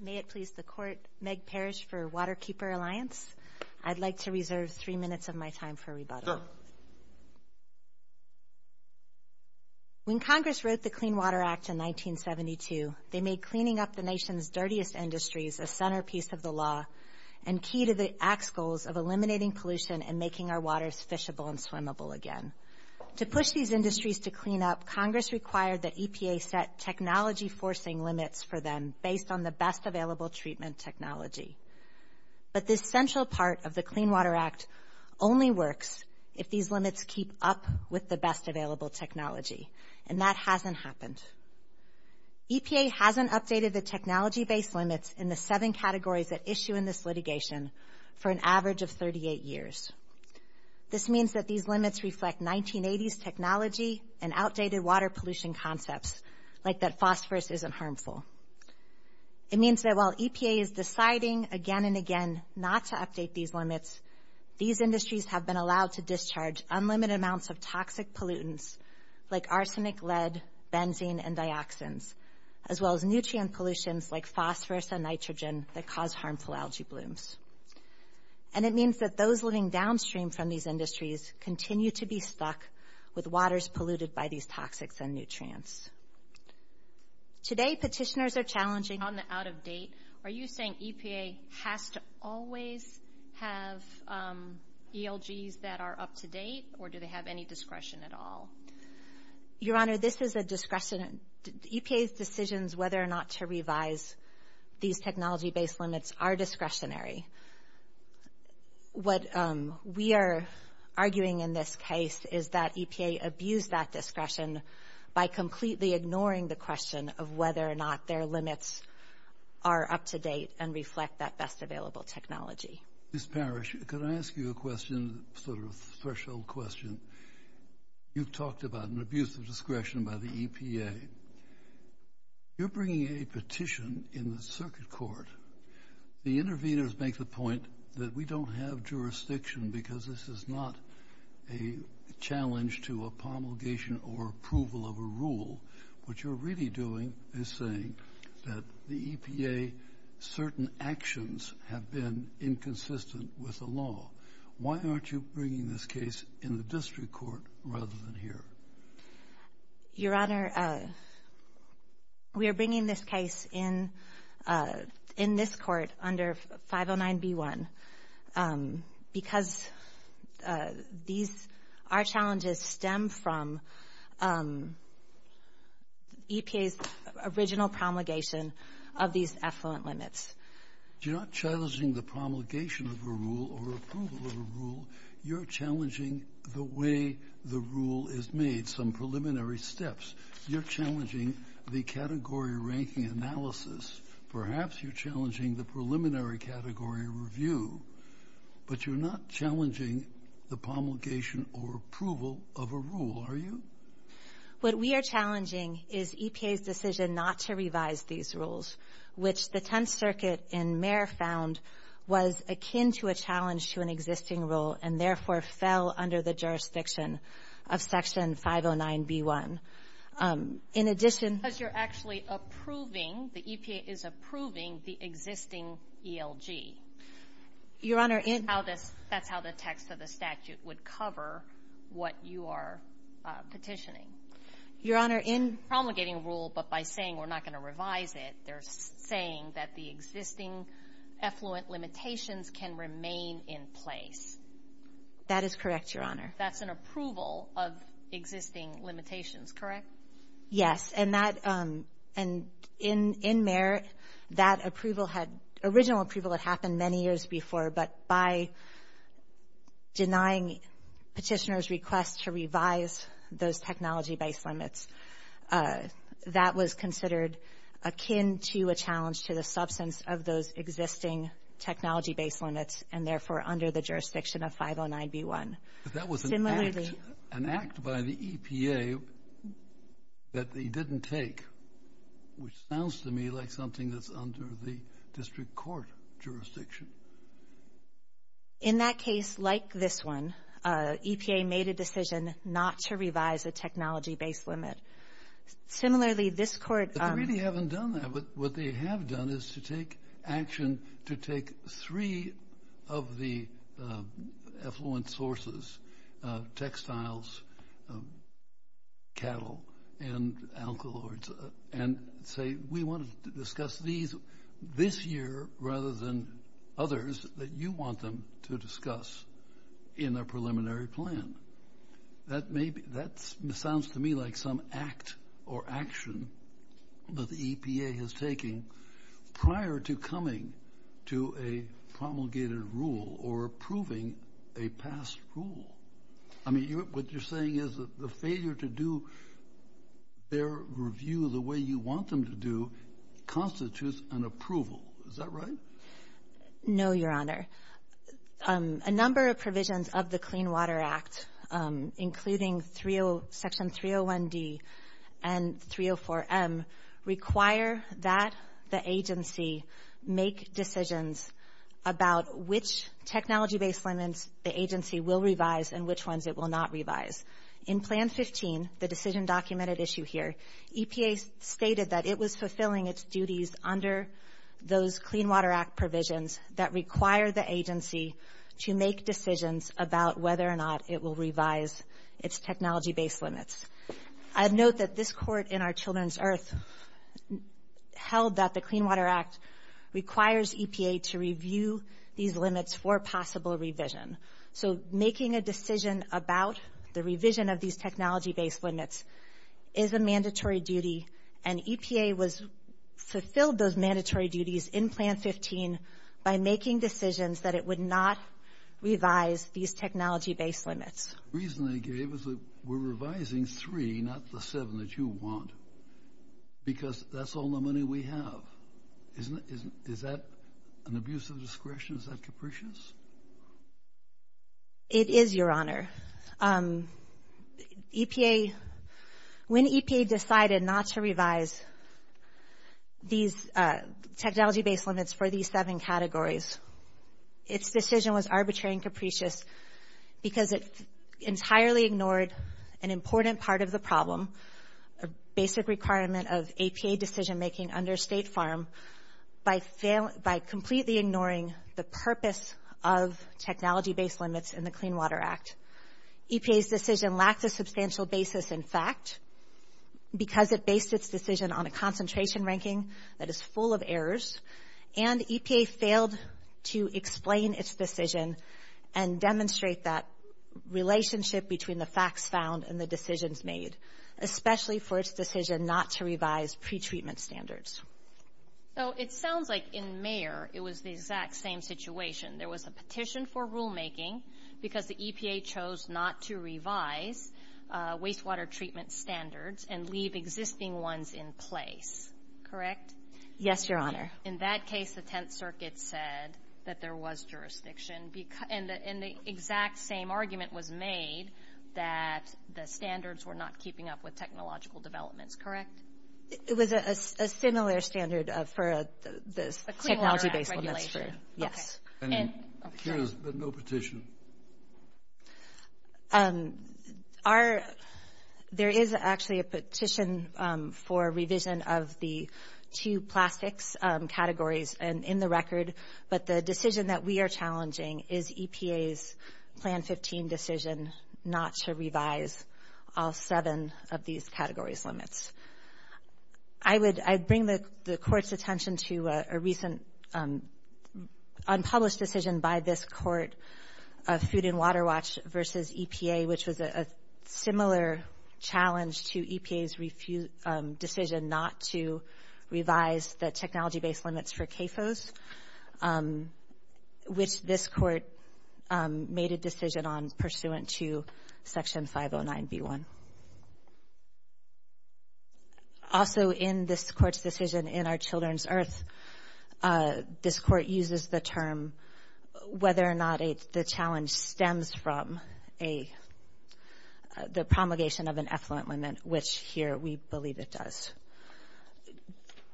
May it please the Court, Meg Parish for Waterkeeper Alliance. I'd like to reserve three minutes of my time for rebuttal. When Congress wrote the Clean Water Act in 1972, they made cleaning up the nation's and making our waters fishable and swimmable again. To push these industries to clean up, Congress required that EPA set technology-forcing limits for them based on the best available treatment technology. But this central part of the Clean Water Act only works if these limits keep up with the best available technology, and that hasn't happened. EPA hasn't updated the technology-based limits in the seven categories that issue in this litigation for an average of 38 years. This means that these limits reflect 1980s technology and outdated water pollution concepts, like that phosphorus isn't harmful. It means that while EPA is deciding again and again not to update these limits, these industries have been allowed to discharge unlimited amounts of toxic pollutants like arsenic, lead, benzene, and dioxins, as well as nutrient pollutions like phosphorus and nitrogen that cause harmful algae blooms. And it means that those living downstream from these industries continue to be stuck with waters polluted by these toxics and nutrients. Today petitioners are challenging on the out-of-date. Are you saying EPA has to always have ELGs that are up-to-date, or do they have any discretion at all? Your Honor, this is a discretion. EPA's decisions whether or not to revise these technology-based limits are discretionary. What we are arguing in this case is that EPA abused that discretion by completely ignoring the question of whether or not their limits are up-to-date and reflect that best available technology. Ms. Parrish, could I ask you a question, sort of a threshold question? You've talked about an abuse of discretion by the EPA. You're bringing a petition in the circuit court. The interveners make the point that we don't have jurisdiction because this is not a challenge to a promulgation or approval of a rule. What you're really doing is saying that the EPA certain actions have been inconsistent with the law. Why aren't you bringing this case in the district court rather than here? Your Honor, we are bringing this case in this court under 509B1 because our challenges stem from EPA's original promulgation of these affluent limits. You're not challenging the promulgation of a rule or approval of a rule. You're challenging the way the rule is made, some preliminary steps. You're challenging the category ranking analysis. Perhaps you're challenging the preliminary category review. But you're not challenging the promulgation or approval of a rule, are you? What we are challenging is EPA's decision not to revise these rules, which the Tenth Circuit and Mayor found was akin to a challenge to an existing rule and therefore fell under the jurisdiction of Section 509B1. In addition... Because you're actually approving, the EPA is approving the existing ELG. Your Honor, in... That's how the text of the statute would cover what you are petitioning. Your Honor, in... Promulgating a rule, but by saying we're not going to revise it, they're saying that the existing affluent limitations can remain in place. That is correct, Your Honor. That's an approval of existing limitations, correct? Yes. And in Merritt, that original approval had happened many years before, but by denying petitioner's request to revise those technology-based limits, that was considered akin to a challenge to the substance of those existing technology-based limits and therefore under the jurisdiction of 509B1. That was an act... Similarly... That they didn't take, which sounds to me like something that's under the district court jurisdiction. In that case, like this one, EPA made a decision not to revise a technology-based limit. Similarly, this court... But they really haven't done that. What they have done is to take action to take three of the affluent sources, textiles, cattle, and alkaloids, and say, we want to discuss these this year rather than others that you want them to discuss in a preliminary plan. That may be... That sounds to me like some act or action that the EPA has taken prior to coming to a promulgated rule or approving a past rule. I mean, what you're saying is that the failure to do their review the way you want them to do constitutes an approval. Is that right? No, Your Honor. A number of provisions of the Clean Water Act, including Section 301D and 304M, require that the agency make decisions about which technology-based limits the agency will revise and which ones it will not revise. In Plan 15, the decision-documented issue here, EPA stated that it was fulfilling its duties under those Clean Water Act provisions that require the agency to make decisions about whether or not it will revise its technology-based limits. I'd note that this Court in our children's earth held that the Clean Water Act requires EPA to review these limits for possible revision. So, making a decision about the revision of these technology-based limits is a mandatory duty, and EPA fulfilled those mandatory duties in Plan 15 by making decisions that it would not revise these technology-based limits. The reason they gave is that we're revising three, not the seven that you want, because that's all the money we have. Is that an abuse of discretion? Is that capricious? It is, Your Honor. EPA, when EPA decided not to revise these technology-based limits for these seven categories, its decision was arbitrary and capricious because it entirely ignored an important part of the problem, a basic requirement of APA decision-making under State Farm by completely ignoring the purpose of technology-based limits in the Clean Water Act. EPA's decision lacked a substantial basis in fact, because it based its decision on a concentration ranking that is full of errors, and EPA failed to explain its decision and demonstrate that relationship between the facts found and the decisions made, especially for its decision not to revise pretreatment standards. So, it sounds like in Mayer, it was the exact same situation. There was a petition for rulemaking because the EPA chose not to revise wastewater treatment standards and leave existing ones in place, correct? Yes, Your Honor. In that case, the Tenth Circuit said that there was jurisdiction, and the exact same argument was made that the standards were not keeping up with technological developments, correct? It was a similar standard for the technology-based limits. Yes. And here's the no petition. There is actually a petition for revision of the two plastics categories in the record, but the decision that we are challenging is EPA's Plan 15 decision not to revise all seven of these categories' limits. I bring the Court's attention to a recent unpublished decision by this Court of Food and Water Watch versus EPA, which was a similar challenge to EPA's decision not to revise the technology-based limits for CAFOs, which this Court made a decision on pursuant to Section 509B1. Also, in this Court's decision in Our Children's Earth, this Court uses the term whether or not the challenge stems from the promulgation of an effluent limit, which here we believe it does.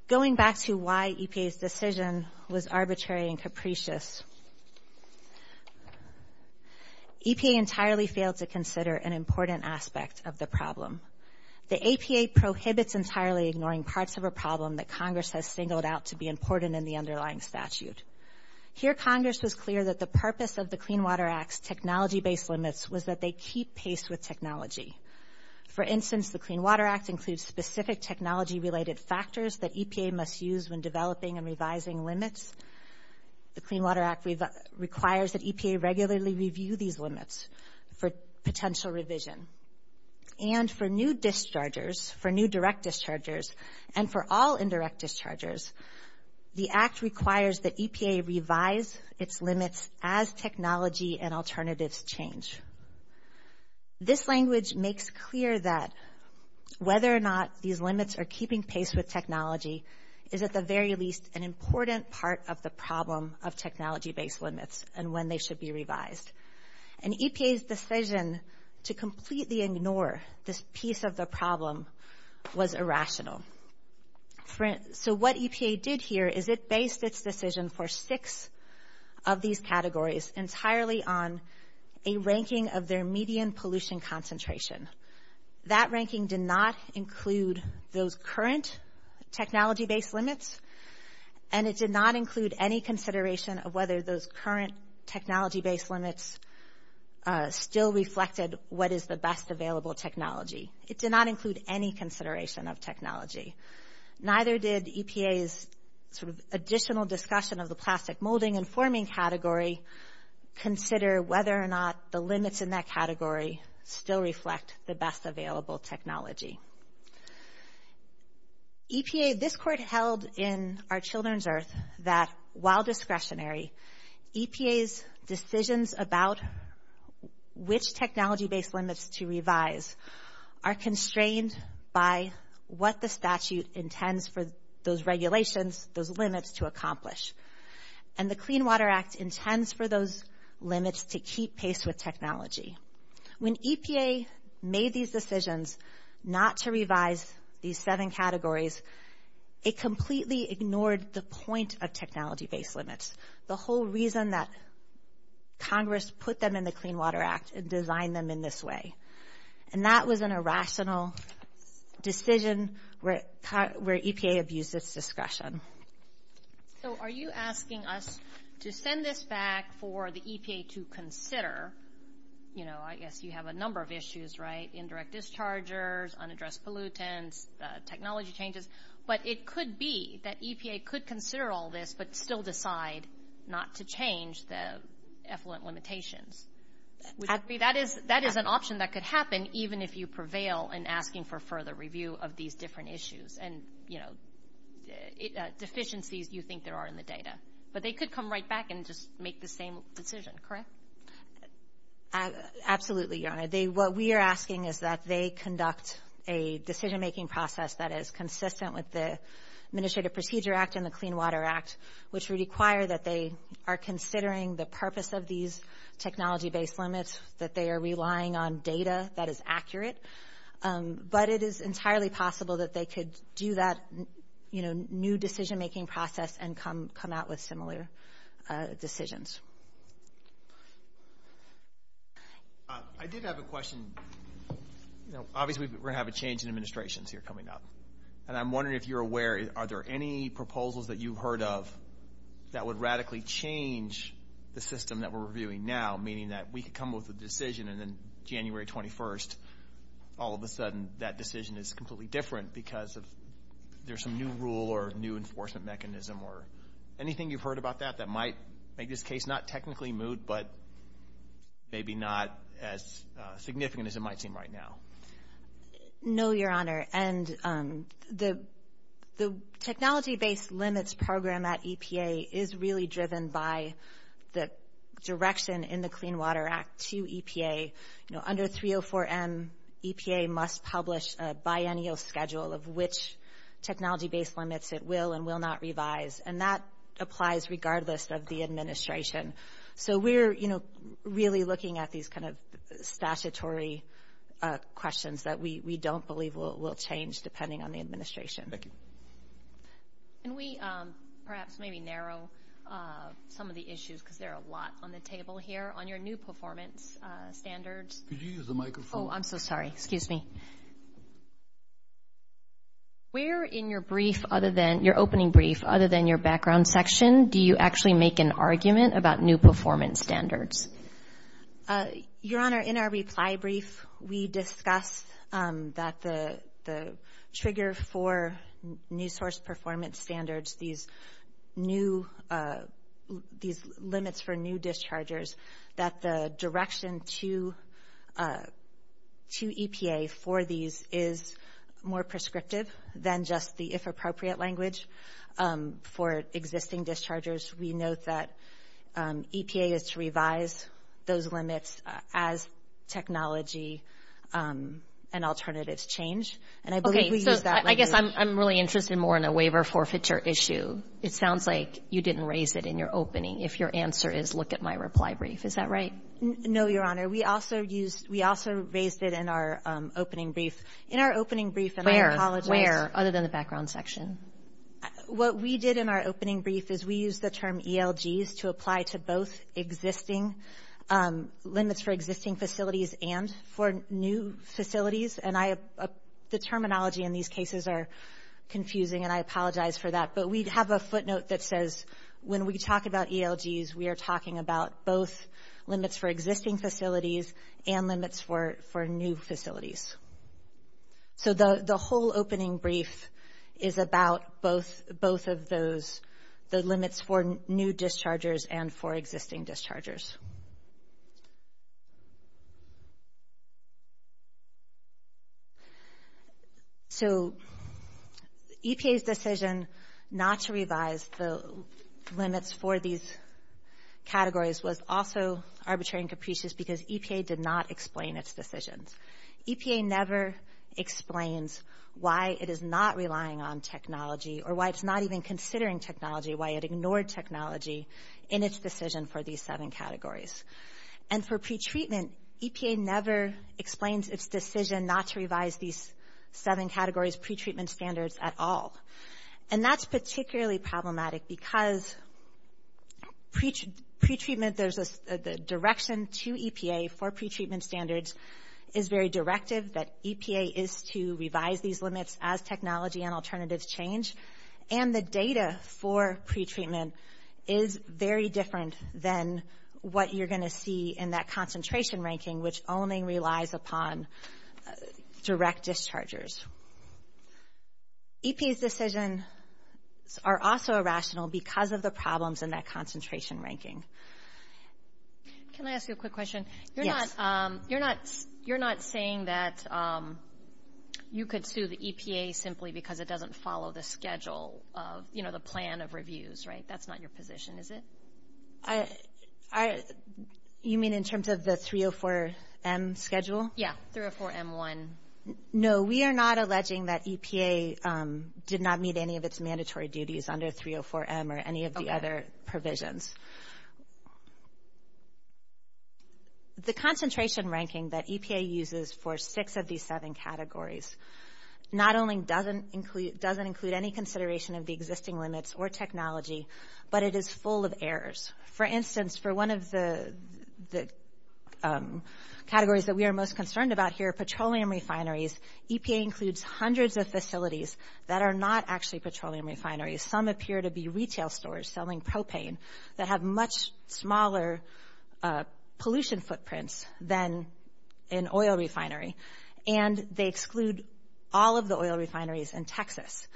Going back to why EPA's decision was arbitrary and capricious, EPA entirely failed to consider an important aspect of the problem. The APA prohibits entirely ignoring parts of a problem that Congress has singled out to be important in the underlying statute. Here Congress was clear that the purpose of the Clean Water Act's technology-based limits was that they keep pace with technology. For instance, the Clean Water Act includes specific technology-related factors that EPA must use when developing and revising limits. The Clean Water Act requires that EPA regularly review these limits for potential revision. And for new dischargers, for new direct dischargers, and for all indirect dischargers, the Act requires that EPA revise its limits as technology and alternatives change. This language makes clear that whether or not these limits are keeping pace with technology is at the very least an important part of the problem of technology-based limits and when they should be revised. And EPA's decision to completely ignore this piece of the problem was irrational. So what EPA did here is it based its decision for six of these categories entirely on a ranking of their median pollution concentration. That ranking did not include those current technology-based limits and it did not include any consideration of whether those current technology-based limits still reflected what is the best available technology. It did not include any consideration of technology. Neither did EPA's sort of additional discussion of the plastic molding and forming category consider whether or not the limits in that category still reflect the best available technology. EPA, this court held in our children's earth that while discretionary, EPA's decisions about which technology-based limits to revise are constrained by what the statute intends for those regulations, those limits to accomplish. And the Clean Water Act intends for those limits to keep pace with technology. When EPA made these decisions not to revise these seven categories, it completely ignored the point of technology-based limits, the whole reason that Congress put them in the Clean Water Act and designed them in this way. And that was an irrational decision where EPA abused its discretion. So are you asking us to send this back for the EPA to consider, you know, I guess you have a number of issues, right? Indirect dischargers, unaddressed pollutants, technology changes. But it could be that EPA could consider all this but still decide not to change the effluent limitations. That is an option that could happen even if you prevail in asking for further review of these different issues and, you know, deficiencies you think there are in the data. But they could come right back and just make the same decision, correct? Absolutely, Your Honor. What we are asking is that they conduct a decision-making process that is consistent with the Administrative Procedure Act and the Clean Water Act, which would require that they are considering the purpose of these technology-based limits, that they are relying on data that is accurate. But it is entirely possible that they could do that, you know, new decision-making process and come out with similar decisions. I did have a question. You know, obviously we're going to have a change in administrations here coming up. And I'm wondering if you're aware, are there any proposals that you've heard of that would radically change the system that we're reviewing now, meaning that we could come with a decision and then January 21st, all of a sudden that decision is completely different because there's some new rule or new enforcement mechanism or anything you've heard about that that might make this case not technically moot, but maybe not as significant as it might seem right now? No, Your Honor. And the technology-based limits program at EPA is really driven by the direction in the EPA, you know, under 304M, EPA must publish a biennial schedule of which technology-based limits it will and will not revise. And that applies regardless of the administration. So we're, you know, really looking at these kind of statutory questions that we don't believe will change depending on the administration. Thank you. Can we perhaps maybe narrow some of the issues, because there are a lot on the table here? On your new performance standards. Could you use the microphone? Oh, I'm so sorry. Excuse me. Where in your brief other than, your opening brief, other than your background section, do you actually make an argument about new performance standards? Your Honor, in our reply brief, we discuss that the trigger for new source performance standards, these new, these limits for new dischargers, that the direction to EPA for these is more prescriptive than just the if appropriate language for existing dischargers. We note that EPA is to revise those limits as technology and alternatives change. And I believe we use that language. I'm really interested more in a waiver forfeiture issue. It sounds like you didn't raise it in your opening. If your answer is, look at my reply brief. Is that right? No, Your Honor. We also used, we also raised it in our opening brief. In our opening brief, and I apologize. Where? Other than the background section. What we did in our opening brief is we used the term ELGs to apply to both existing limits for existing facilities and for new facilities. And I, the terminology in these cases are confusing and I apologize for that. But we have a footnote that says, when we talk about ELGs, we are talking about both limits for existing facilities and limits for new facilities. So the whole opening brief is about both of those, the limits for new dischargers and for existing dischargers. So EPA's decision not to revise the limits for these categories was also arbitrary and capricious because EPA did not explain its decisions. EPA never explains why it is not relying on technology or why it's not even considering technology, why it ignored technology in its decision for these seven categories. And for pretreatment, EPA never explains its decision not to revise these seven categories pretreatment standards at all. And that's particularly problematic because pretreatment, there's a direction to EPA for pretreatment standards is very directive, that EPA is to revise these limits as technology and alternatives change. And the data for pretreatment is very different than what you're going to see in that concentration ranking, which only relies upon direct dischargers. EPA's decisions are also irrational because of the problems in that concentration ranking. Can I ask you a quick question? Yes. You're not saying that you could sue the EPA simply because it doesn't follow the schedule of, you know, the plan of reviews, right? That's not your position, is it? You mean in terms of the 304M schedule? Yeah, 304M1. No, we are not alleging that EPA did not meet any of its mandatory duties under 304M or any of the other provisions. The concentration ranking that EPA uses for six of these seven categories not only doesn't include any consideration of the existing limits or technology, but it is full of errors. For instance, for one of the categories that we are most concerned about here, petroleum refineries, EPA includes hundreds of facilities that are not actually petroleum refineries. Some appear to be retail stores selling propane. They have much smaller pollution footprints than an oil refinery, and they exclude all of the oil refineries in Texas.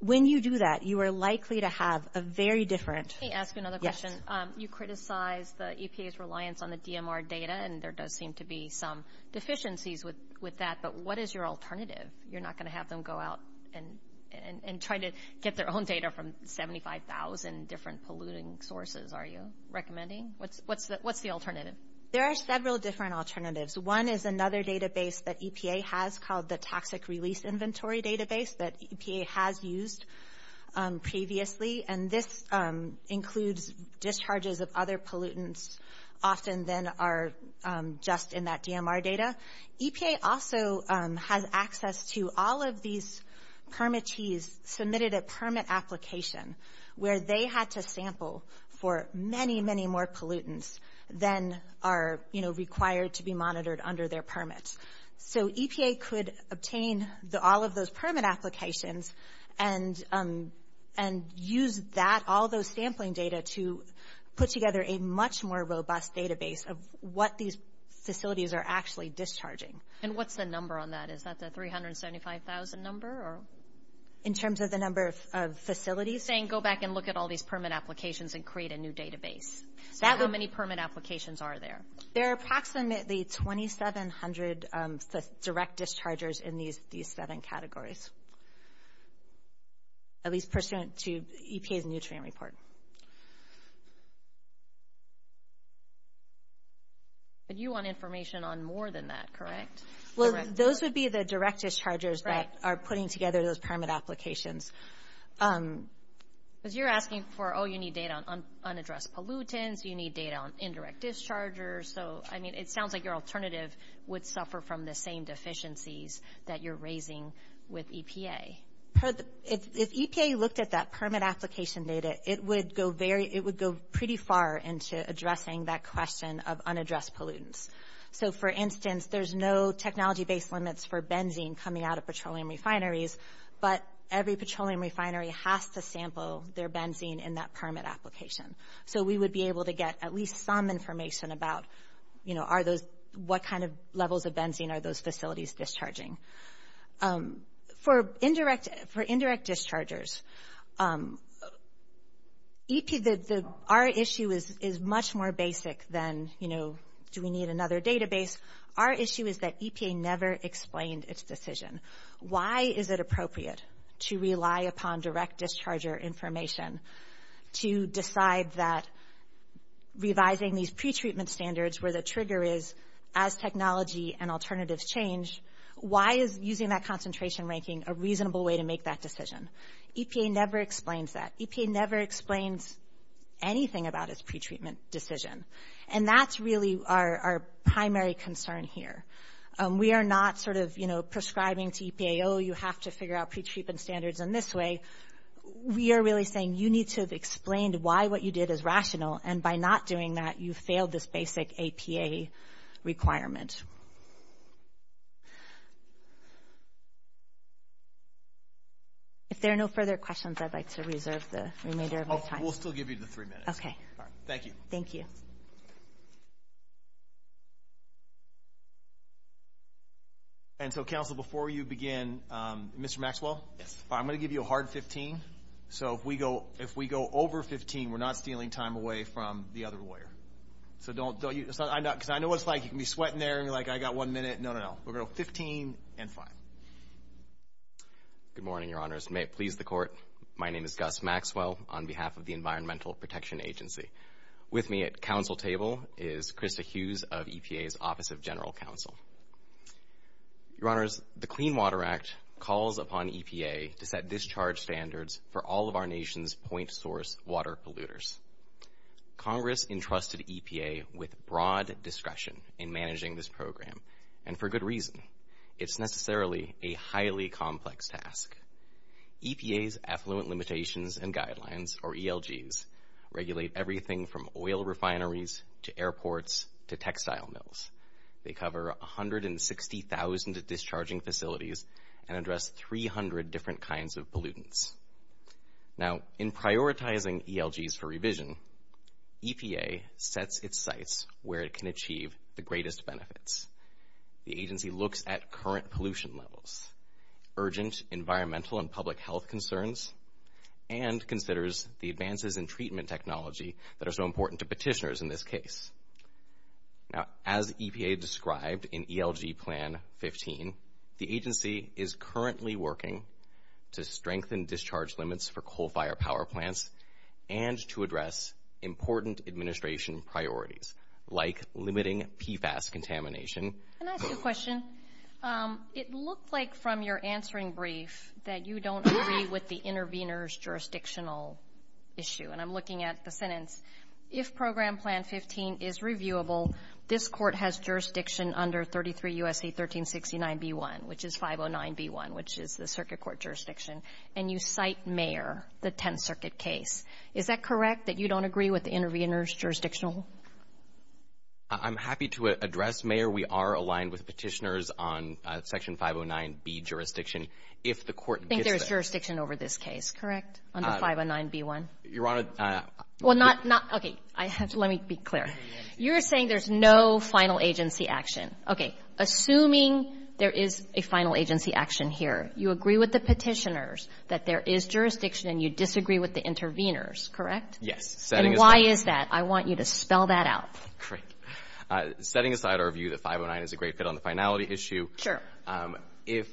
When you do that, you are likely to have a very different... Can I ask you another question? You criticize the EPA's reliance on the DMR data, and there does seem to be some deficiencies with that, but what is your alternative? You're not going to have them go out and try to get their own data from 75,000 different polluting sources, are you recommending? What's the alternative? There are several different alternatives. One is another database that EPA has called the Toxic Release Inventory Database that EPA has used previously, and this includes discharges of other pollutants often than are just in that DMR data. EPA also has access to all of these permittees submitted at permit application, where they had to sample for many, many more pollutants than are required to be monitored under their permits. So EPA could obtain all of those permit applications and use all those sampling data to put together a much more robust database of what these facilities are actually discharging. And what's the number on that? Is that the 375,000 number? In terms of the number of facilities? Are you saying go back and look at all these permit applications and create a new database? How many permit applications are there? There are approximately 2,700 direct dischargers in these seven categories, at least pursuant to EPA's nutrient report. But you want information on more than that, correct? Well, those would be the direct dischargers that are putting together those permit applications. Because you're asking for, oh, you need data on unaddressed pollutants, you need data on indirect dischargers. So, I mean, it sounds like your alternative would suffer from the same deficiencies that you're raising with EPA. If EPA looked at that permit application data, it would go pretty far into addressing that question of unaddressed pollutants. So, for instance, there's no technology-based limits for benzene coming out of petroleum refineries, but every petroleum refinery has to sample their benzene in that permit application. So, we would be able to get at least some information about what kind of levels of benzene are those facilities discharging. For indirect dischargers, our issue is much more basic than, you know, do we need another database? Our issue is that EPA never explained its decision. Why is it appropriate to rely upon direct discharger information to decide that revising these pretreatment standards where the trigger is as technology and alternatives change, why is using that concentration ranking a reasonable way to make that decision? EPA never explains that. EPA never explains anything about its pretreatment decision. And that's really our primary concern here. We are not sort of, you know, prescribing to EPA, oh, you have to figure out pretreatment standards in this way. We are really saying you need to have explained why what you did is rational, and by not doing that, you failed this basic EPA requirement. If there are no further questions, I'd like to reserve the remainder of my time. We'll still give you the three minutes. Okay. Thank you. Thank you. And so, counsel, before you begin, Mr. Maxwell? Yes. I'm going to give you a hard 15. So if we go over 15, we're not stealing time away from the other lawyer. So don't, because I know what it's like. You can be sweating there, and you're like, I got one minute. No, no, no. We're going to go 15 and five. Good morning, Your Honors. May it please the Court, my name is Gus Maxwell on behalf of the Environmental Protection Agency. With me at counsel table is Krista Hughes of EPA's Office of General Counsel. Your Honors, the Clean Water Act calls upon EPA to set discharge standards for all of our nation's point source water polluters. Congress entrusted EPA with broad discretion in managing this program, and for good reason. It's necessarily a highly complex task. EPA's Affluent Limitations and Guidelines, or ELGs, regulate everything from oil refineries to airports to textile mills. They cover 160,000 discharging facilities and address 300 different kinds of pollutants. Now, in prioritizing ELGs for revision, EPA sets its sights where it can achieve the greatest benefits. The agency looks at current pollution levels, urgent environmental and public health concerns, and considers the advances in treatment technology that are so important to petitioners in this case. Now, as EPA described in ELG Plan 15, the agency is currently working to strengthen discharge limits for coal-fired power plants and to address important administration priorities, like limiting PFAS contamination. Can I ask you a question? It looked like from your answering brief that you don't agree with the intervener's jurisdictional issue, and I'm looking at the sentence. If Program Plan 15 is reviewable, this Court has jurisdiction under 33 U.S.C. 1369b-1, which is 509b-1, which is the circuit court jurisdiction, and you cite Mayer, the Tenth Circuit case. Is that correct, that you don't agree with the intervener's jurisdictional? I'm happy to address Mayer. We are aligned with petitioners on Section 509b jurisdiction. If the Court gets that ---- You think there's jurisdiction over this case, correct, under 509b-1? Your Honor ---- Well, not ---- Okay, let me be clear. You're saying there's no final agency action. Okay, assuming there is a final agency action here, you agree with the petitioners that there is jurisdiction, and you disagree with the interveners, correct? Yes. And why is that? I want you to spell that out. Great. Setting aside our view that 509 is a great fit on the finality issue ---- Sure. If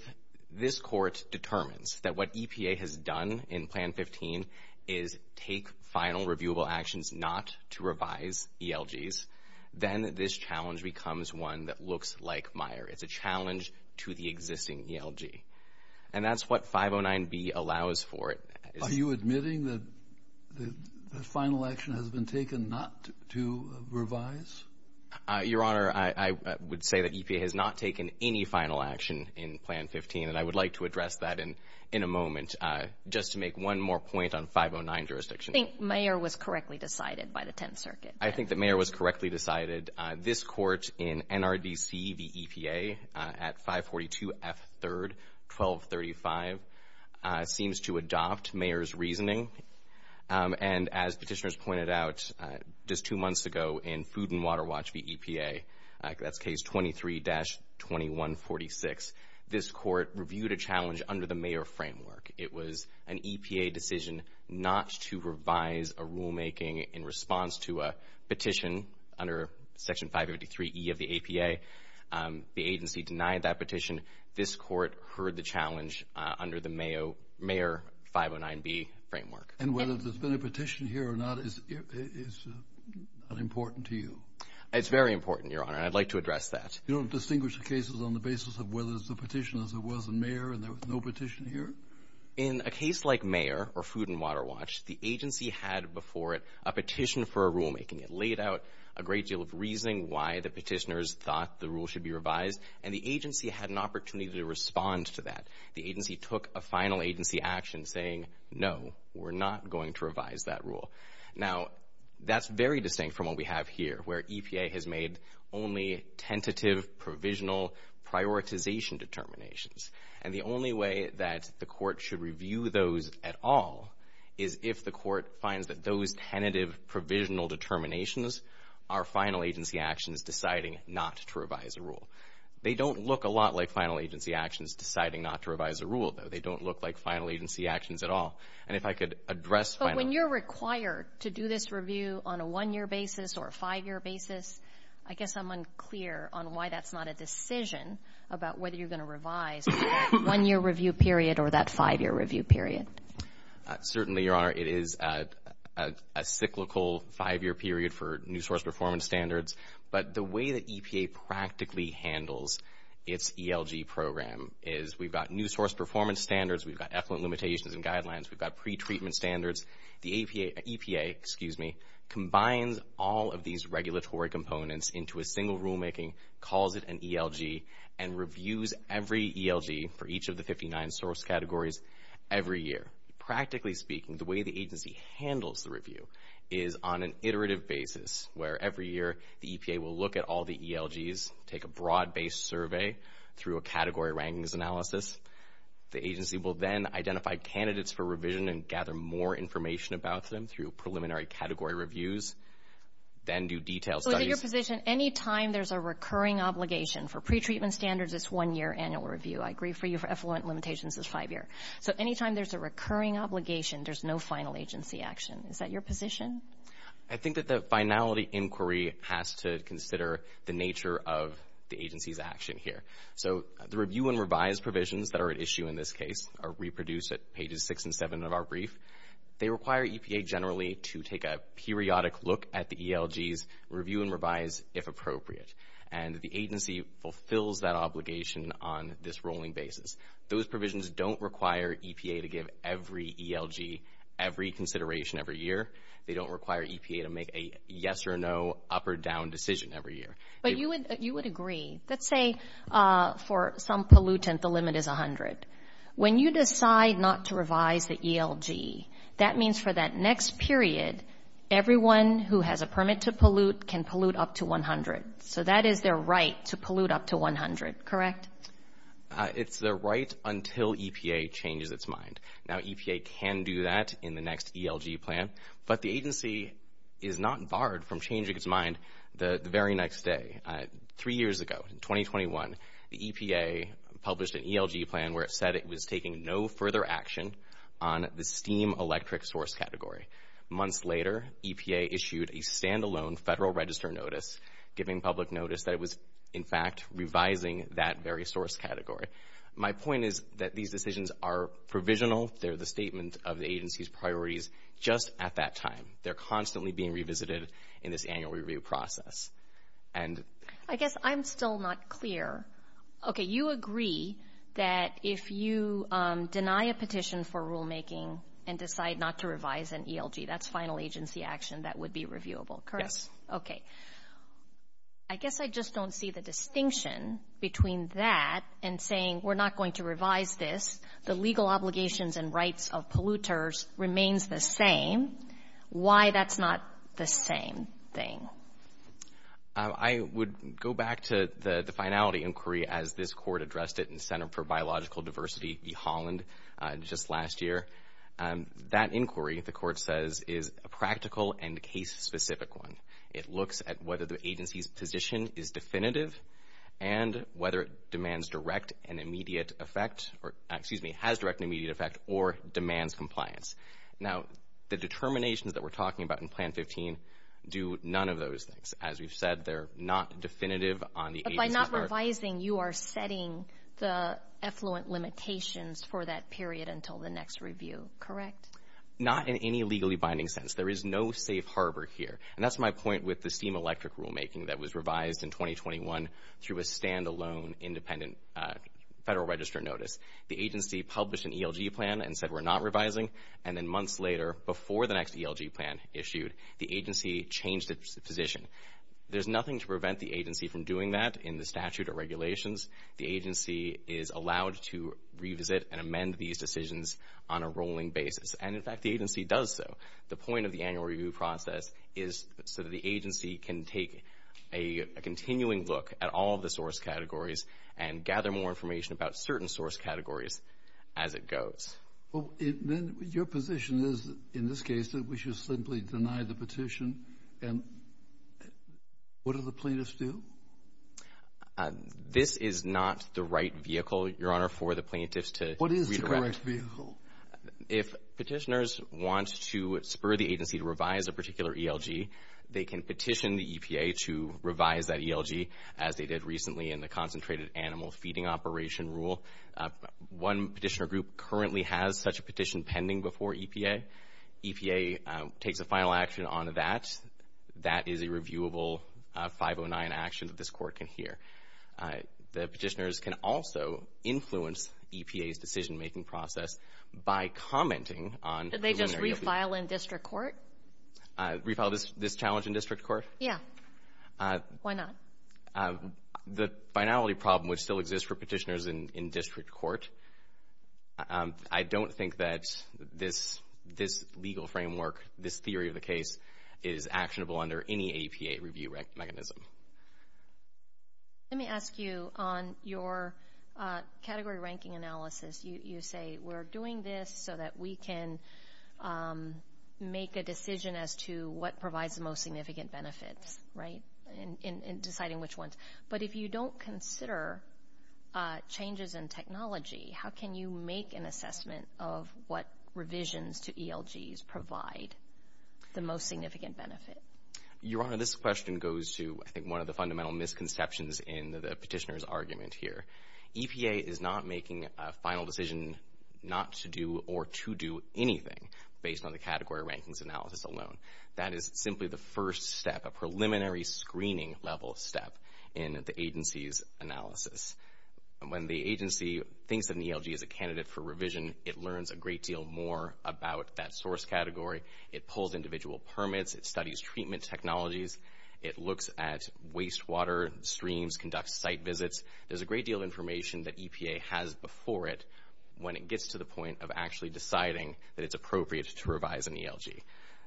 this Court determines that what EPA has done in Plan 15 is take final reviewable actions not to revise ELGs, then this challenge becomes one that looks like Mayer. It's a challenge to the existing ELG. And that's what 509b allows for. Are you admitting that the final action has been taken not to revise? Your Honor, I would say that EPA has not taken any final action in Plan 15, and I would like to address that in a moment. Just to make one more point on 509 jurisdiction. I think Mayer was correctly decided by the Tenth Circuit. I think that Mayer was correctly decided. This Court in NRDC v. EPA at 542F3-1235 seems to adopt Mayer's reasoning. And as petitioners pointed out just two months ago in Food and Water Watch v. EPA, that's Case 23-2146, this Court reviewed a challenge under the Mayer framework. It was an EPA decision not to revise a rulemaking in response to a petition under Section 553E of the APA. The agency denied that petition. This Court heard the challenge under the Mayer 509b framework. And whether there's been a petition here or not is unimportant to you? It's very important, Your Honor, and I'd like to address that. You don't distinguish the cases on the basis of whether it's a petition as it was in Mayer and there was no petition here? In a case like Mayer or Food and Water Watch, the agency had before it a petition for a rulemaking. It laid out a great deal of reasoning why the petitioners thought the rule should be revised, and the agency had an opportunity to respond to that. The agency took a final agency action saying, no, we're not going to revise that rule. Now, that's very distinct from what we have here, where EPA has made only tentative provisional prioritization determinations. And the only way that the Court should review those at all is if the Court finds that those tentative provisional determinations are final agency actions deciding not to revise a rule. They don't look a lot like final agency actions deciding not to revise a rule, though. They don't look like final agency actions at all. And if I could address final agency actions. But when you're required to do this review on a one-year basis or a five-year basis, I guess I'm unclear on why that's not a decision about whether you're going to revise that one-year review period or that five-year review period. Certainly, Your Honor, it is a cyclical five-year period for new source performance standards. But the way that EPA practically handles its ELG program is we've got new source performance standards, we've got effluent limitations and guidelines, we've got pretreatment standards. The EPA combines all of these regulatory components into a single rulemaking, calls it an ELG, and reviews every ELG for each of the 59 source categories every year. Practically speaking, the way the agency handles the review is on an iterative basis where every year the EPA will look at all the ELGs, take a broad-based survey through a category rankings analysis. The agency will then identify candidates for revision and gather more information about them through preliminary category reviews, then do detailed studies. So your position, any time there's a recurring obligation for pretreatment standards, it's one-year annual review. I agree for you for effluent limitations, it's five-year. So any time there's a recurring obligation, there's no final agency action. Is that your position? I think that the finality inquiry has to consider the nature of the agency's action here. So the review and revise provisions that are at issue in this case are reproduced at pages 6 and 7 of our brief. They require EPA generally to take a periodic look at the ELGs, review and revise if appropriate. And the agency fulfills that obligation on this rolling basis. Those provisions don't require EPA to give every ELG every consideration every year. They don't require EPA to make a yes or no, up or down decision every year. But you would agree. Let's say for some pollutant the limit is 100. When you decide not to revise the ELG, that means for that next period, everyone who has a permit to pollute can pollute up to 100. So that is their right to pollute up to 100, correct? It's their right until EPA changes its mind. Now EPA can do that in the next ELG plan, but the agency is not barred from changing its mind the very next day. Three years ago, in 2021, the EPA published an ELG plan where it said it was taking no further action on the steam electric source category. Months later, EPA issued a standalone federal register notice, giving public notice that it was in fact revising that very source category. My point is that these decisions are provisional. They're the statement of the agency's priorities just at that time. They're constantly being revisited in this annual review process. I guess I'm still not clear. Okay, you agree that if you deny a petition for rulemaking and decide not to revise an ELG, that's final agency action that would be reviewable, correct? Okay. I guess I just don't see the distinction between that and saying we're not going to revise this, the legal obligations and rights of polluters remains the same. Why that's not the same thing? I would go back to the finality inquiry as this court addressed it in Center for Biological Diversity v. Holland just last year. That inquiry, the court says, is a practical and case-specific one. It looks at whether the agency's position is definitive and whether it has direct and immediate effect or demands compliance. Now, the determinations that we're talking about in Plan 15 do none of those things. As we've said, they're not definitive on the agency's part. But by not revising, you are setting the effluent limitations for that period until the next review, correct? Not in any legally binding sense. There is no safe harbor here. And that's my point with the steam electric rulemaking that was revised in 2021 through a standalone independent Federal Register notice. The agency published an ELG plan and said we're not revising. And then months later, before the next ELG plan issued, the agency changed its position. There's nothing to prevent the agency from doing that in the statute of regulations. The agency is allowed to revisit and amend these decisions on a rolling basis. And, in fact, the agency does so. The point of the annual review process is so that the agency can take a continuing look at all of the source categories and gather more information about certain source categories as it goes. Well, then your position is, in this case, that we should simply deny the petition. And what do the plaintiffs do? This is not the right vehicle, Your Honor, for the plaintiffs to redirect. What is the correct vehicle? If petitioners want to spur the agency to revise a particular ELG, they can petition the EPA to revise that ELG, as they did recently in the concentrated animal feeding operation rule. One petitioner group currently has such a petition pending before EPA. EPA takes a final action on that. That is a reviewable 509 action that this Court can hear. The petitioners can also influence EPA's decision-making process by commenting on preliminary ELG. Do they just refile in district court? Refile this challenge in district court? Yeah. Why not? The finality problem would still exist for petitioners in district court. I don't think that this legal framework, this theory of the case, is actionable under any EPA review mechanism. Let me ask you, on your category ranking analysis, you say we're doing this so that we can make a decision as to what provides the most significant benefits, right, in deciding which ones. But if you don't consider changes in technology, how can you make an assessment of what revisions to ELGs provide the most significant benefit? Your Honor, this question goes to, I think, one of the fundamental misconceptions in the petitioner's argument here. EPA is not making a final decision not to do or to do anything, based on the category rankings analysis alone. That is simply the first step, a preliminary screening-level step in the agency's analysis. When the agency thinks of an ELG as a candidate for revision, it learns a great deal more about that source category. It pulls individual permits. It studies treatment technologies. It looks at wastewater streams, conducts site visits. There's a great deal of information that EPA has before it when it gets to the point of actually deciding that it's appropriate to revise an ELG.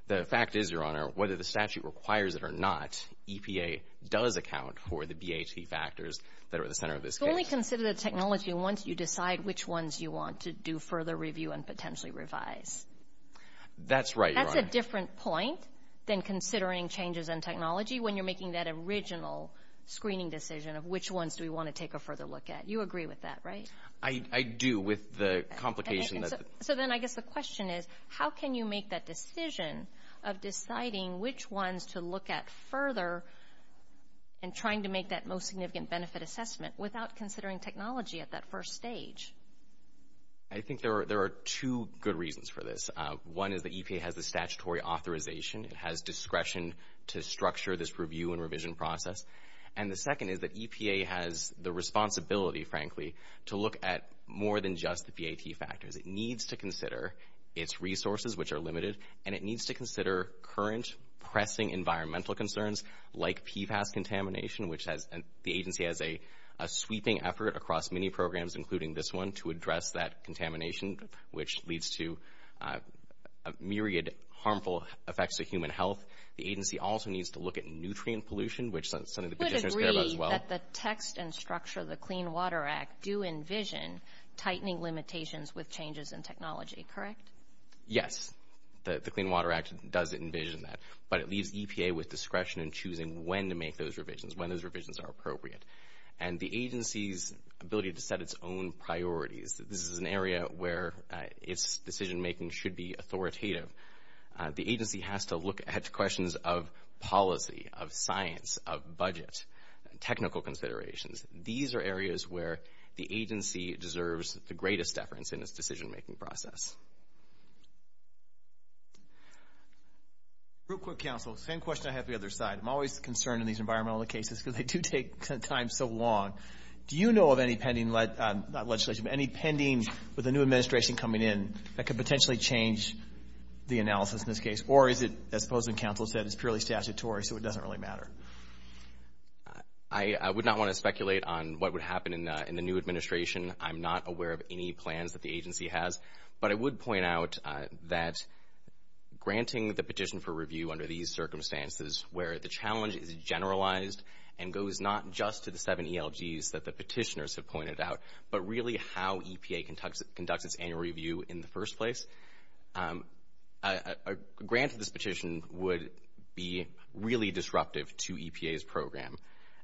The fact is, Your Honor, whether the statute requires it or not, EPA does account for the BHC factors that are at the center of this case. So only consider the technology once you decide which ones you want to do further review and potentially revise. That's right, Your Honor. That's a different point than considering changes in technology when you're making that original screening decision of which ones do we want to take a further look at. You agree with that, right? I do with the complication. So then I guess the question is, how can you make that decision of deciding which ones to look at further and trying to make that most significant benefit assessment without considering technology at that first stage? I think there are two good reasons for this. One is that EPA has the statutory authorization. It has discretion to structure this review and revision process. And the second is that EPA has the responsibility, frankly, to look at more than just the PAT factors. It needs to consider its resources, which are limited, and it needs to consider current pressing environmental concerns like PFAS contamination, which the agency has a sweeping effort across many programs, including this one, to address that contamination, which leads to a myriad of harmful effects to human health. The agency also needs to look at nutrient pollution, which is something the petitioners care about as well. I would agree that the text and structure of the Clean Water Act do envision tightening limitations with changes in technology, correct? Yes, the Clean Water Act does envision that, but it leaves EPA with discretion in choosing when to make those revisions, when those revisions are appropriate. And the agency's ability to set its own priorities, this is an area where its decision-making should be authoritative. The agency has to look at questions of policy, of science, of budget, technical considerations. These are areas where the agency deserves the greatest deference in its decision-making process. Real quick, counsel, same question I have on the other side. I'm always concerned in these environmental cases because they do take time so long. Do you know of any pending legislation, any pending with a new administration coming in that could potentially change the analysis in this case? Or is it, as the opposing counsel said, it's purely statutory, so it doesn't really matter? I would not want to speculate on what would happen in the new administration. I'm not aware of any plans that the agency has. But I would point out that granting the petition for review under these circumstances where the challenge is generalized and goes not just to the seven ELGs that the petitioners have pointed out, but really how EPA conducts its annual review in the first place, a grant to this petition would be really disruptive to EPA's program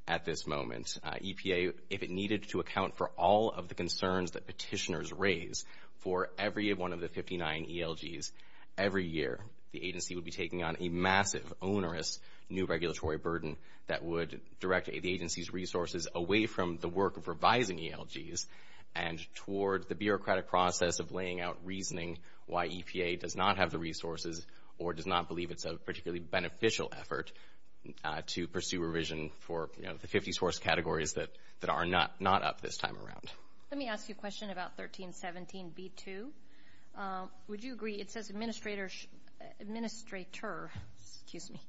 at this moment. EPA, if it needed to account for all of the concerns that petitioners raise for every one of the 59 ELGs every year, the agency would be taking on a massive, onerous new regulatory burden that would direct the agency's resources away from the work of revising ELGs and toward the bureaucratic process of laying out reasoning why EPA does not have the resources or does not believe it's a particularly beneficial effort to pursue revision for the 50 source categories that are not up this time around. Let me ask you a question about 1317b2. Would you agree, it says administrator, excuse me,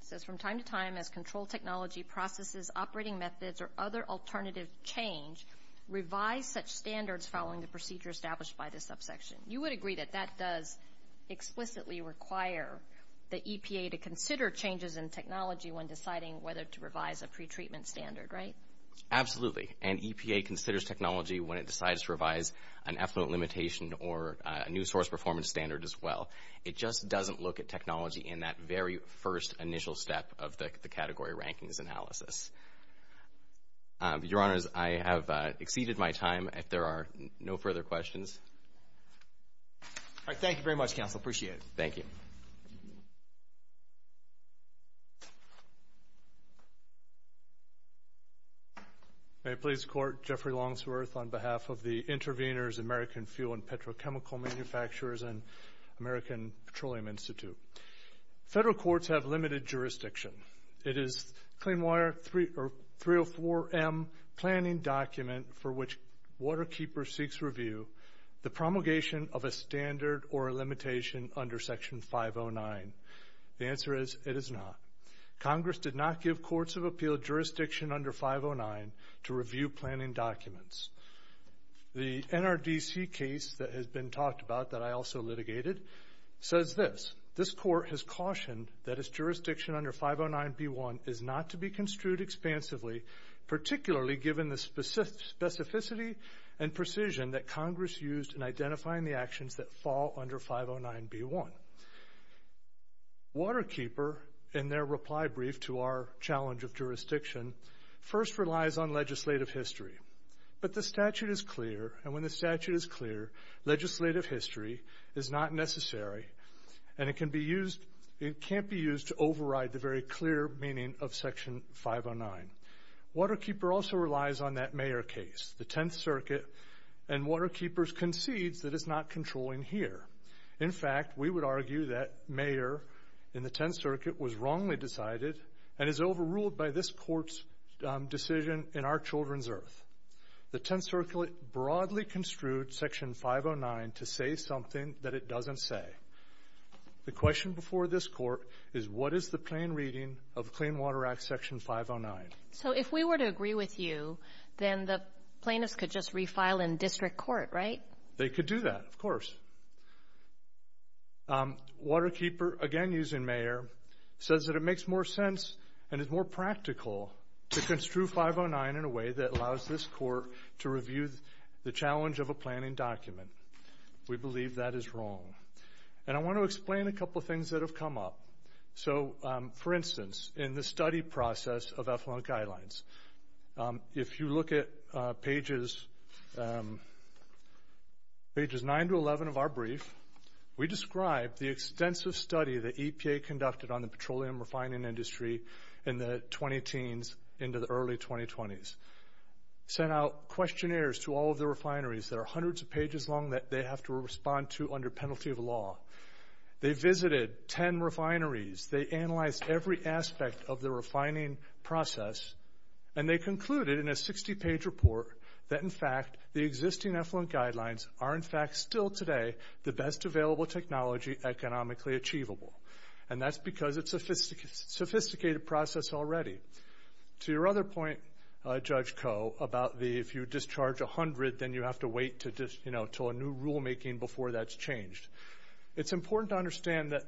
says from time to time as control technology processes operating methods or other alternative change revise such standards following the procedure established by the subsection? You would agree that that does explicitly require the EPA to consider changes in technology when deciding whether to revise a pretreatment standard, right? Absolutely, and EPA considers technology when it decides to revise an effluent limitation or a new source performance standard as well. It just doesn't look at technology in that very first initial step of the category rankings analysis. Your Honors, I have exceeded my time. If there are no further questions. All right, thank you very much, Counsel. Appreciate it. Thank you. May it please the Court, Jeffrey Longsworth on behalf of the intervenors, American Fuel and Petrochemical Manufacturers and American Petroleum Institute. Federal courts have limited jurisdiction. It is Clean Water 304M planning document for which waterkeeper seeks review, the promulgation of a standard or a limitation under Section 509. The answer is it is not. Congress did not give courts of appeal jurisdiction under 509 to review planning documents. The NRDC case that has been talked about that I also litigated says this, this court has cautioned that its jurisdiction under 509B1 is not to be construed expansively, particularly given the specificity and precision that Congress used in identifying the actions that fall under 509B1. Waterkeeper, in their reply brief to our challenge of jurisdiction, first relies on legislative history. But the statute is clear, and when the statute is clear, legislative history is not necessary and it can't be used to override the very clear meaning of Section 509. Waterkeeper also relies on that Mayer case, the Tenth Circuit, and waterkeeper concedes that it's not controlling here. In fact, we would argue that Mayer in the Tenth Circuit was wrongly decided and is overruled by this court's decision in our children's earth. The Tenth Circuit broadly construed Section 509 to say something that it doesn't say. The question before this court is what is the plain reading of Clean Water Act Section 509? So if we were to agree with you, then the plaintiffs could just refile in district court, right? They could do that, of course. Waterkeeper, again using Mayer, says that it makes more sense and is more practical to construe 509 in a way that allows this court to review the challenge of a planning document. We believe that is wrong. And I want to explain a couple of things that have come up. So, for instance, in the study process of effluent guidelines, if you look at pages 9 to 11 of our brief, we describe the extensive study that EPA conducted on the petroleum refining industry in the 20-teens into the early 2020s. Sent out questionnaires to all of the refineries that are hundreds of pages long that they have to respond to under penalty of law. They visited 10 refineries. They analyzed every aspect of the refining process, and they concluded in a 60-page report that, in fact, the existing effluent guidelines are, in fact, still today, the best available technology economically achievable. And that's because it's a sophisticated process already. To your other point, Judge Koh, about if you discharge 100, then you have to wait until a new rulemaking before that's changed. It's important to understand that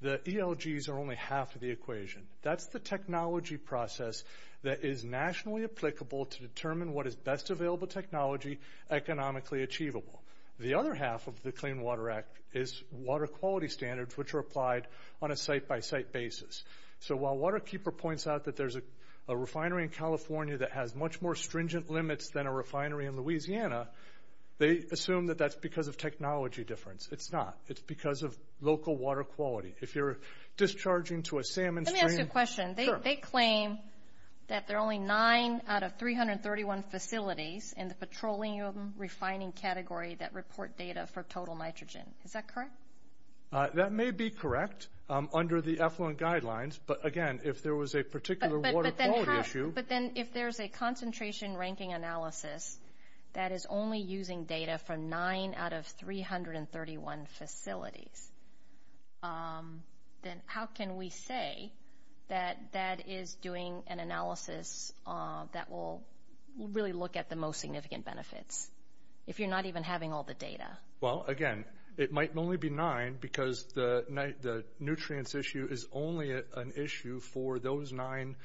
the ELGs are only half of the equation. That's the technology process that is nationally applicable to determine what is best available technology economically achievable. The other half of the Clean Water Act is water quality standards, which are applied on a site-by-site basis. So while Waterkeeper points out that there's a refinery in California that has much more stringent limits than a refinery in Louisiana, they assume that that's because of technology difference. It's not. It's because of local water quality. If you're discharging to a salmon stream— Let me ask you a question. Sure. They claim that there are only 9 out of 331 facilities in the petroleum refining category that report data for total nitrogen. Is that correct? That may be correct under the effluent guidelines. But, again, if there was a particular water quality issue— But then if there's a concentration ranking analysis that is only using data from 9 out of 331 facilities, then how can we say that that is doing an analysis that will really look at the most significant benefits if you're not even having all the data? Well, again, it might only be 9 because the nutrients issue is only an issue for those 9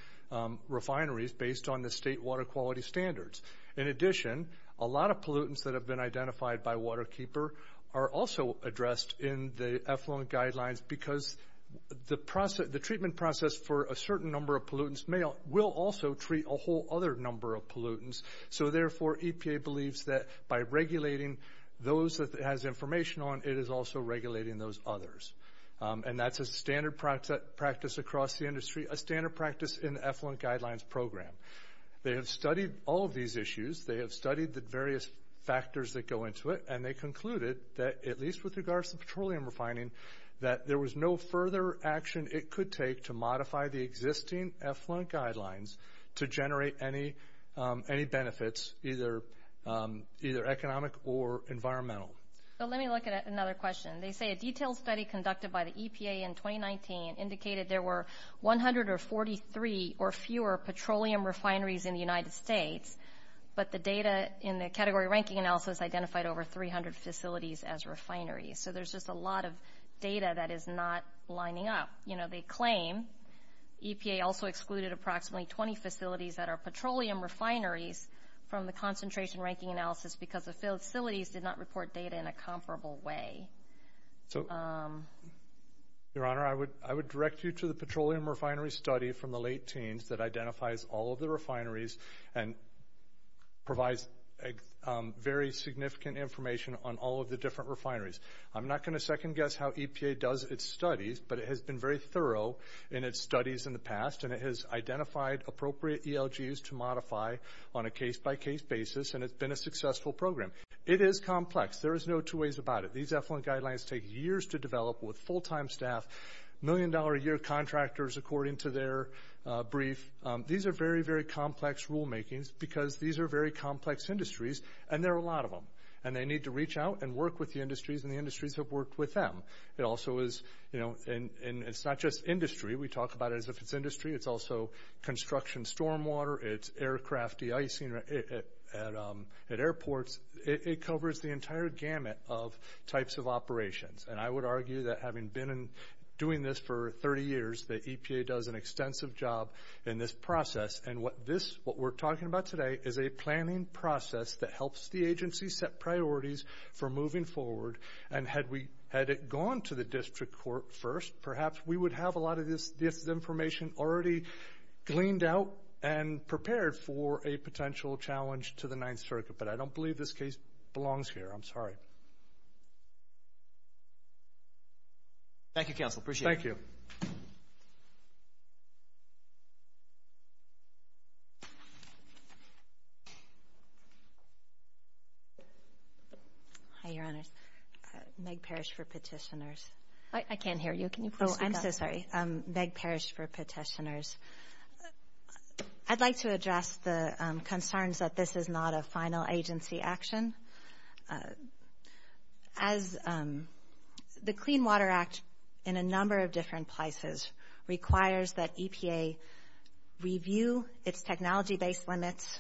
refineries based on the state water quality standards. In addition, a lot of pollutants that have been identified by Waterkeeper are also addressed in the effluent guidelines because the treatment process for a certain number of pollutants will also treat a whole other number of pollutants. So, therefore, EPA believes that by regulating those that it has information on, it is also regulating those others. And that's a standard practice across the industry, a standard practice in the effluent guidelines program. They have studied all of these issues. They have studied the various factors that go into it, and they concluded that, at least with regards to petroleum refining, that there was no further action it could take to modify the existing effluent guidelines to generate any benefits, either economic or environmental. Let me look at another question. They say a detailed study conducted by the EPA in 2019 indicated there were 143 or fewer petroleum refineries in the United States, but the data in the category ranking analysis identified over 300 facilities as refineries. So there's just a lot of data that is not lining up. They claim EPA also excluded approximately 20 facilities that are petroleum refineries from the concentration ranking analysis because the facilities did not report data in a comparable way. Your Honor, I would direct you to the petroleum refinery study from the late teens that identifies all of the refineries and provides very significant information on all of the different refineries. I'm not going to second-guess how EPA does its studies, but it has been very thorough in its studies in the past, and it has identified appropriate ELGs to modify on a case-by-case basis, and it's been a successful program. It is complex. There is no two ways about it. These effluent guidelines take years to develop with full-time staff, million-dollar-a-year contractors according to their brief. These are very, very complex rulemakings because these are very complex industries, and there are a lot of them, and they need to reach out and work with the industries, and the industries have worked with them. It's not just industry. We talk about it as if it's industry. It's also construction stormwater. It's aircraft de-icing at airports. It covers the entire gamut of types of operations, and I would argue that having been doing this for 30 years, that EPA does an extensive job in this process, and what we're talking about today is a planning process that helps the agency set priorities for moving forward, and had it gone to the district court first, perhaps we would have a lot of this information already gleaned out and prepared for a potential challenge to the Ninth Circuit, but I don't believe this case belongs here. I'm sorry. Thank you, counsel. Appreciate it. Thank you. Hi, Your Honors. Meg Parrish for Petitioners. I can't hear you. Can you please speak up? I'm so sorry. Meg Parrish for Petitioners. I'd like to address the concerns that this is not a final agency action. As the Clean Water Act, in a number of different places, requires that EPA review its technology-based limits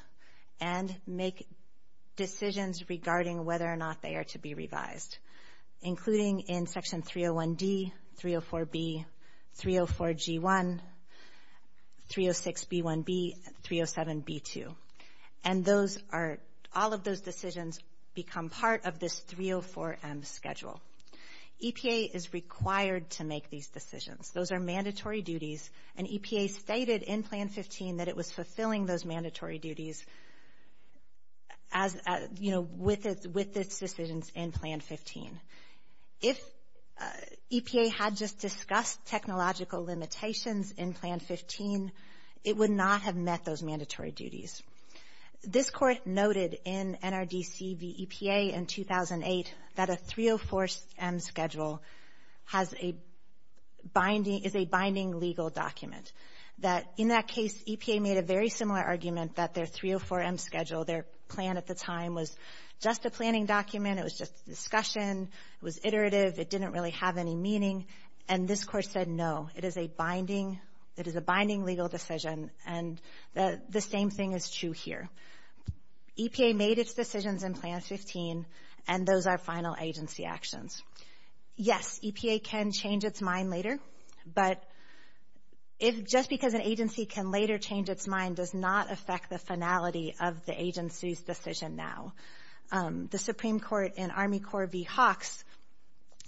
and make decisions regarding whether or not they are to be revised, including in Section 301D, 304B, 304G1, 306B1B, 307B2, and all of those decisions become part of this 304M schedule. EPA is required to make these decisions. Those are mandatory duties, and EPA stated in Plan 15 that it was fulfilling those mandatory duties with its decisions in Plan 15. If EPA had just discussed technological limitations in Plan 15, it would not have met those mandatory duties. This Court noted in NRDC v. EPA in 2008 that a 304M schedule is a binding legal document, that in that case, EPA made a very similar argument that their 304M schedule, their plan at the time, was just a planning document, it was just a discussion, it was iterative, it didn't really have any meaning, and this Court said no, it is a binding legal decision, and the same thing is true here. EPA made its decisions in Plan 15, and those are final agency actions. Yes, EPA can change its mind later, but just because an agency can later change its mind does not affect the finality of the agency's decision now. The Supreme Court in Army Corps v. Hawks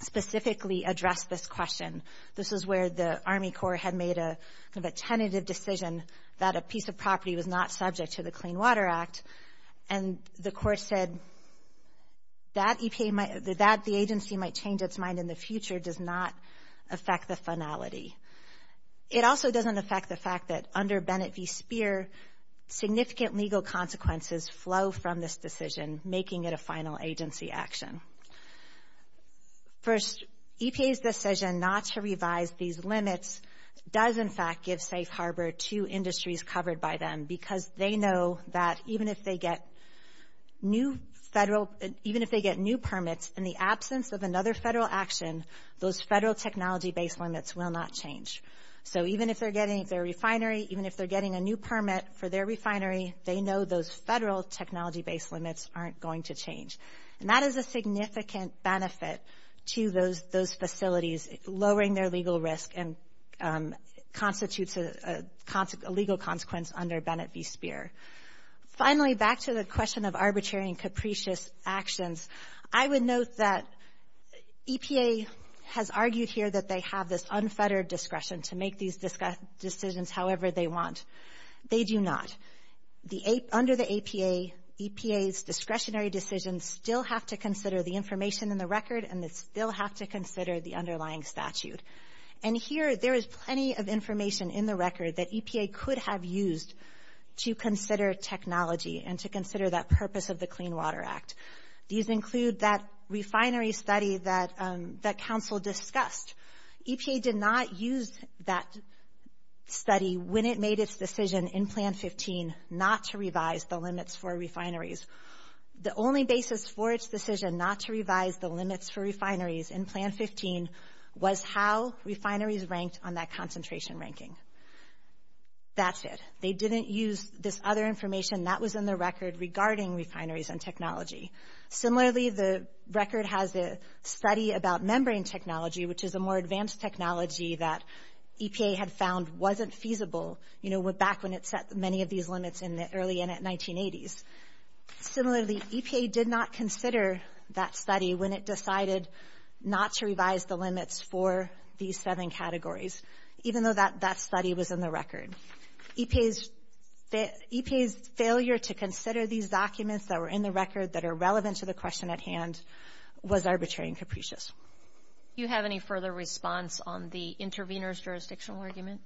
specifically addressed this question. This is where the Army Corps had made a tentative decision that a piece of property was not subject to the Clean Water Act, and the Court said that the agency might change its mind in the future does not affect the finality. It also doesn't affect the fact that under Bennett v. Speer, significant legal consequences flow from this decision, making it a final agency action. First, EPA's decision not to revise these limits does, in fact, give safe harbor to industries covered by them because they know that even if they get new permits in the absence of another federal action, those federal technology-based limits will not change. So even if they're getting their refinery, even if they're getting a new permit for their refinery, they know those federal technology-based limits aren't going to change, and that is a significant benefit to those facilities, lowering their legal risk and constitutes a legal consequence under Bennett v. Speer. Finally, back to the question of arbitrary and capricious actions, I would note that EPA has argued here that they have this unfettered discretion to make these decisions however they want. They do not. Under the APA, EPA's discretionary decisions still have to consider the information in the record, and they still have to consider the underlying statute. And here, there is plenty of information in the record that EPA could have used to consider technology and to consider that purpose of the Clean Water Act. These include that refinery study that counsel discussed. EPA did not use that study when it made its decision in Plan 15 not to revise the limits for refineries. The only basis for its decision not to revise the limits for refineries in Plan 15 was how refineries ranked on that concentration ranking. That's it. They didn't use this other information that was in the record regarding refineries and technology. Similarly, the record has a study about membrane technology, which is a more advanced technology that EPA had found wasn't feasible, you know, back when it set many of these limits in the early and at 1980s. Similarly, EPA did not consider that study when it decided not to revise the limits for these seven categories, even though that study was in the record. EPA's failure to consider these documents that were in the record that are relevant to the question at hand was arbitrary and capricious. Do you have any further response on the intervener's jurisdictional argument?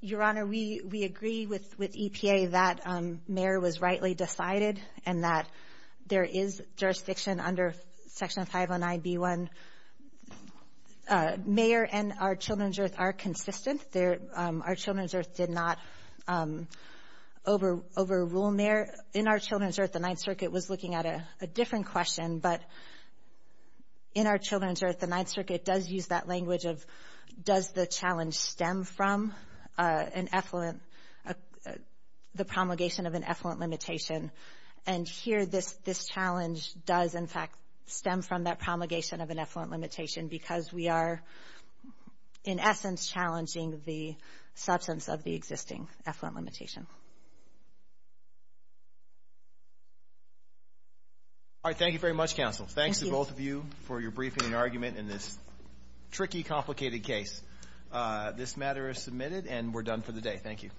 Your Honor, we agree with EPA that mayor was rightly decided and that there is jurisdiction under Section 509b1. Mayor and our Children's Earth are consistent. Our Children's Earth did not overrule mayor. In our Children's Earth, the Ninth Circuit was looking at a different question, but in our Children's Earth, the Ninth Circuit does use that language of, does the challenge stem from the promulgation of an effluent limitation? And here this challenge does, in fact, stem from that promulgation of an effluent limitation because we are, in essence, challenging the substance of the existing effluent limitation. All right. Thank you very much, counsel. Thanks to both of you for your briefing and argument in this tricky, complicated case. This matter is submitted, and we're done for the day. Thank you. Thank you.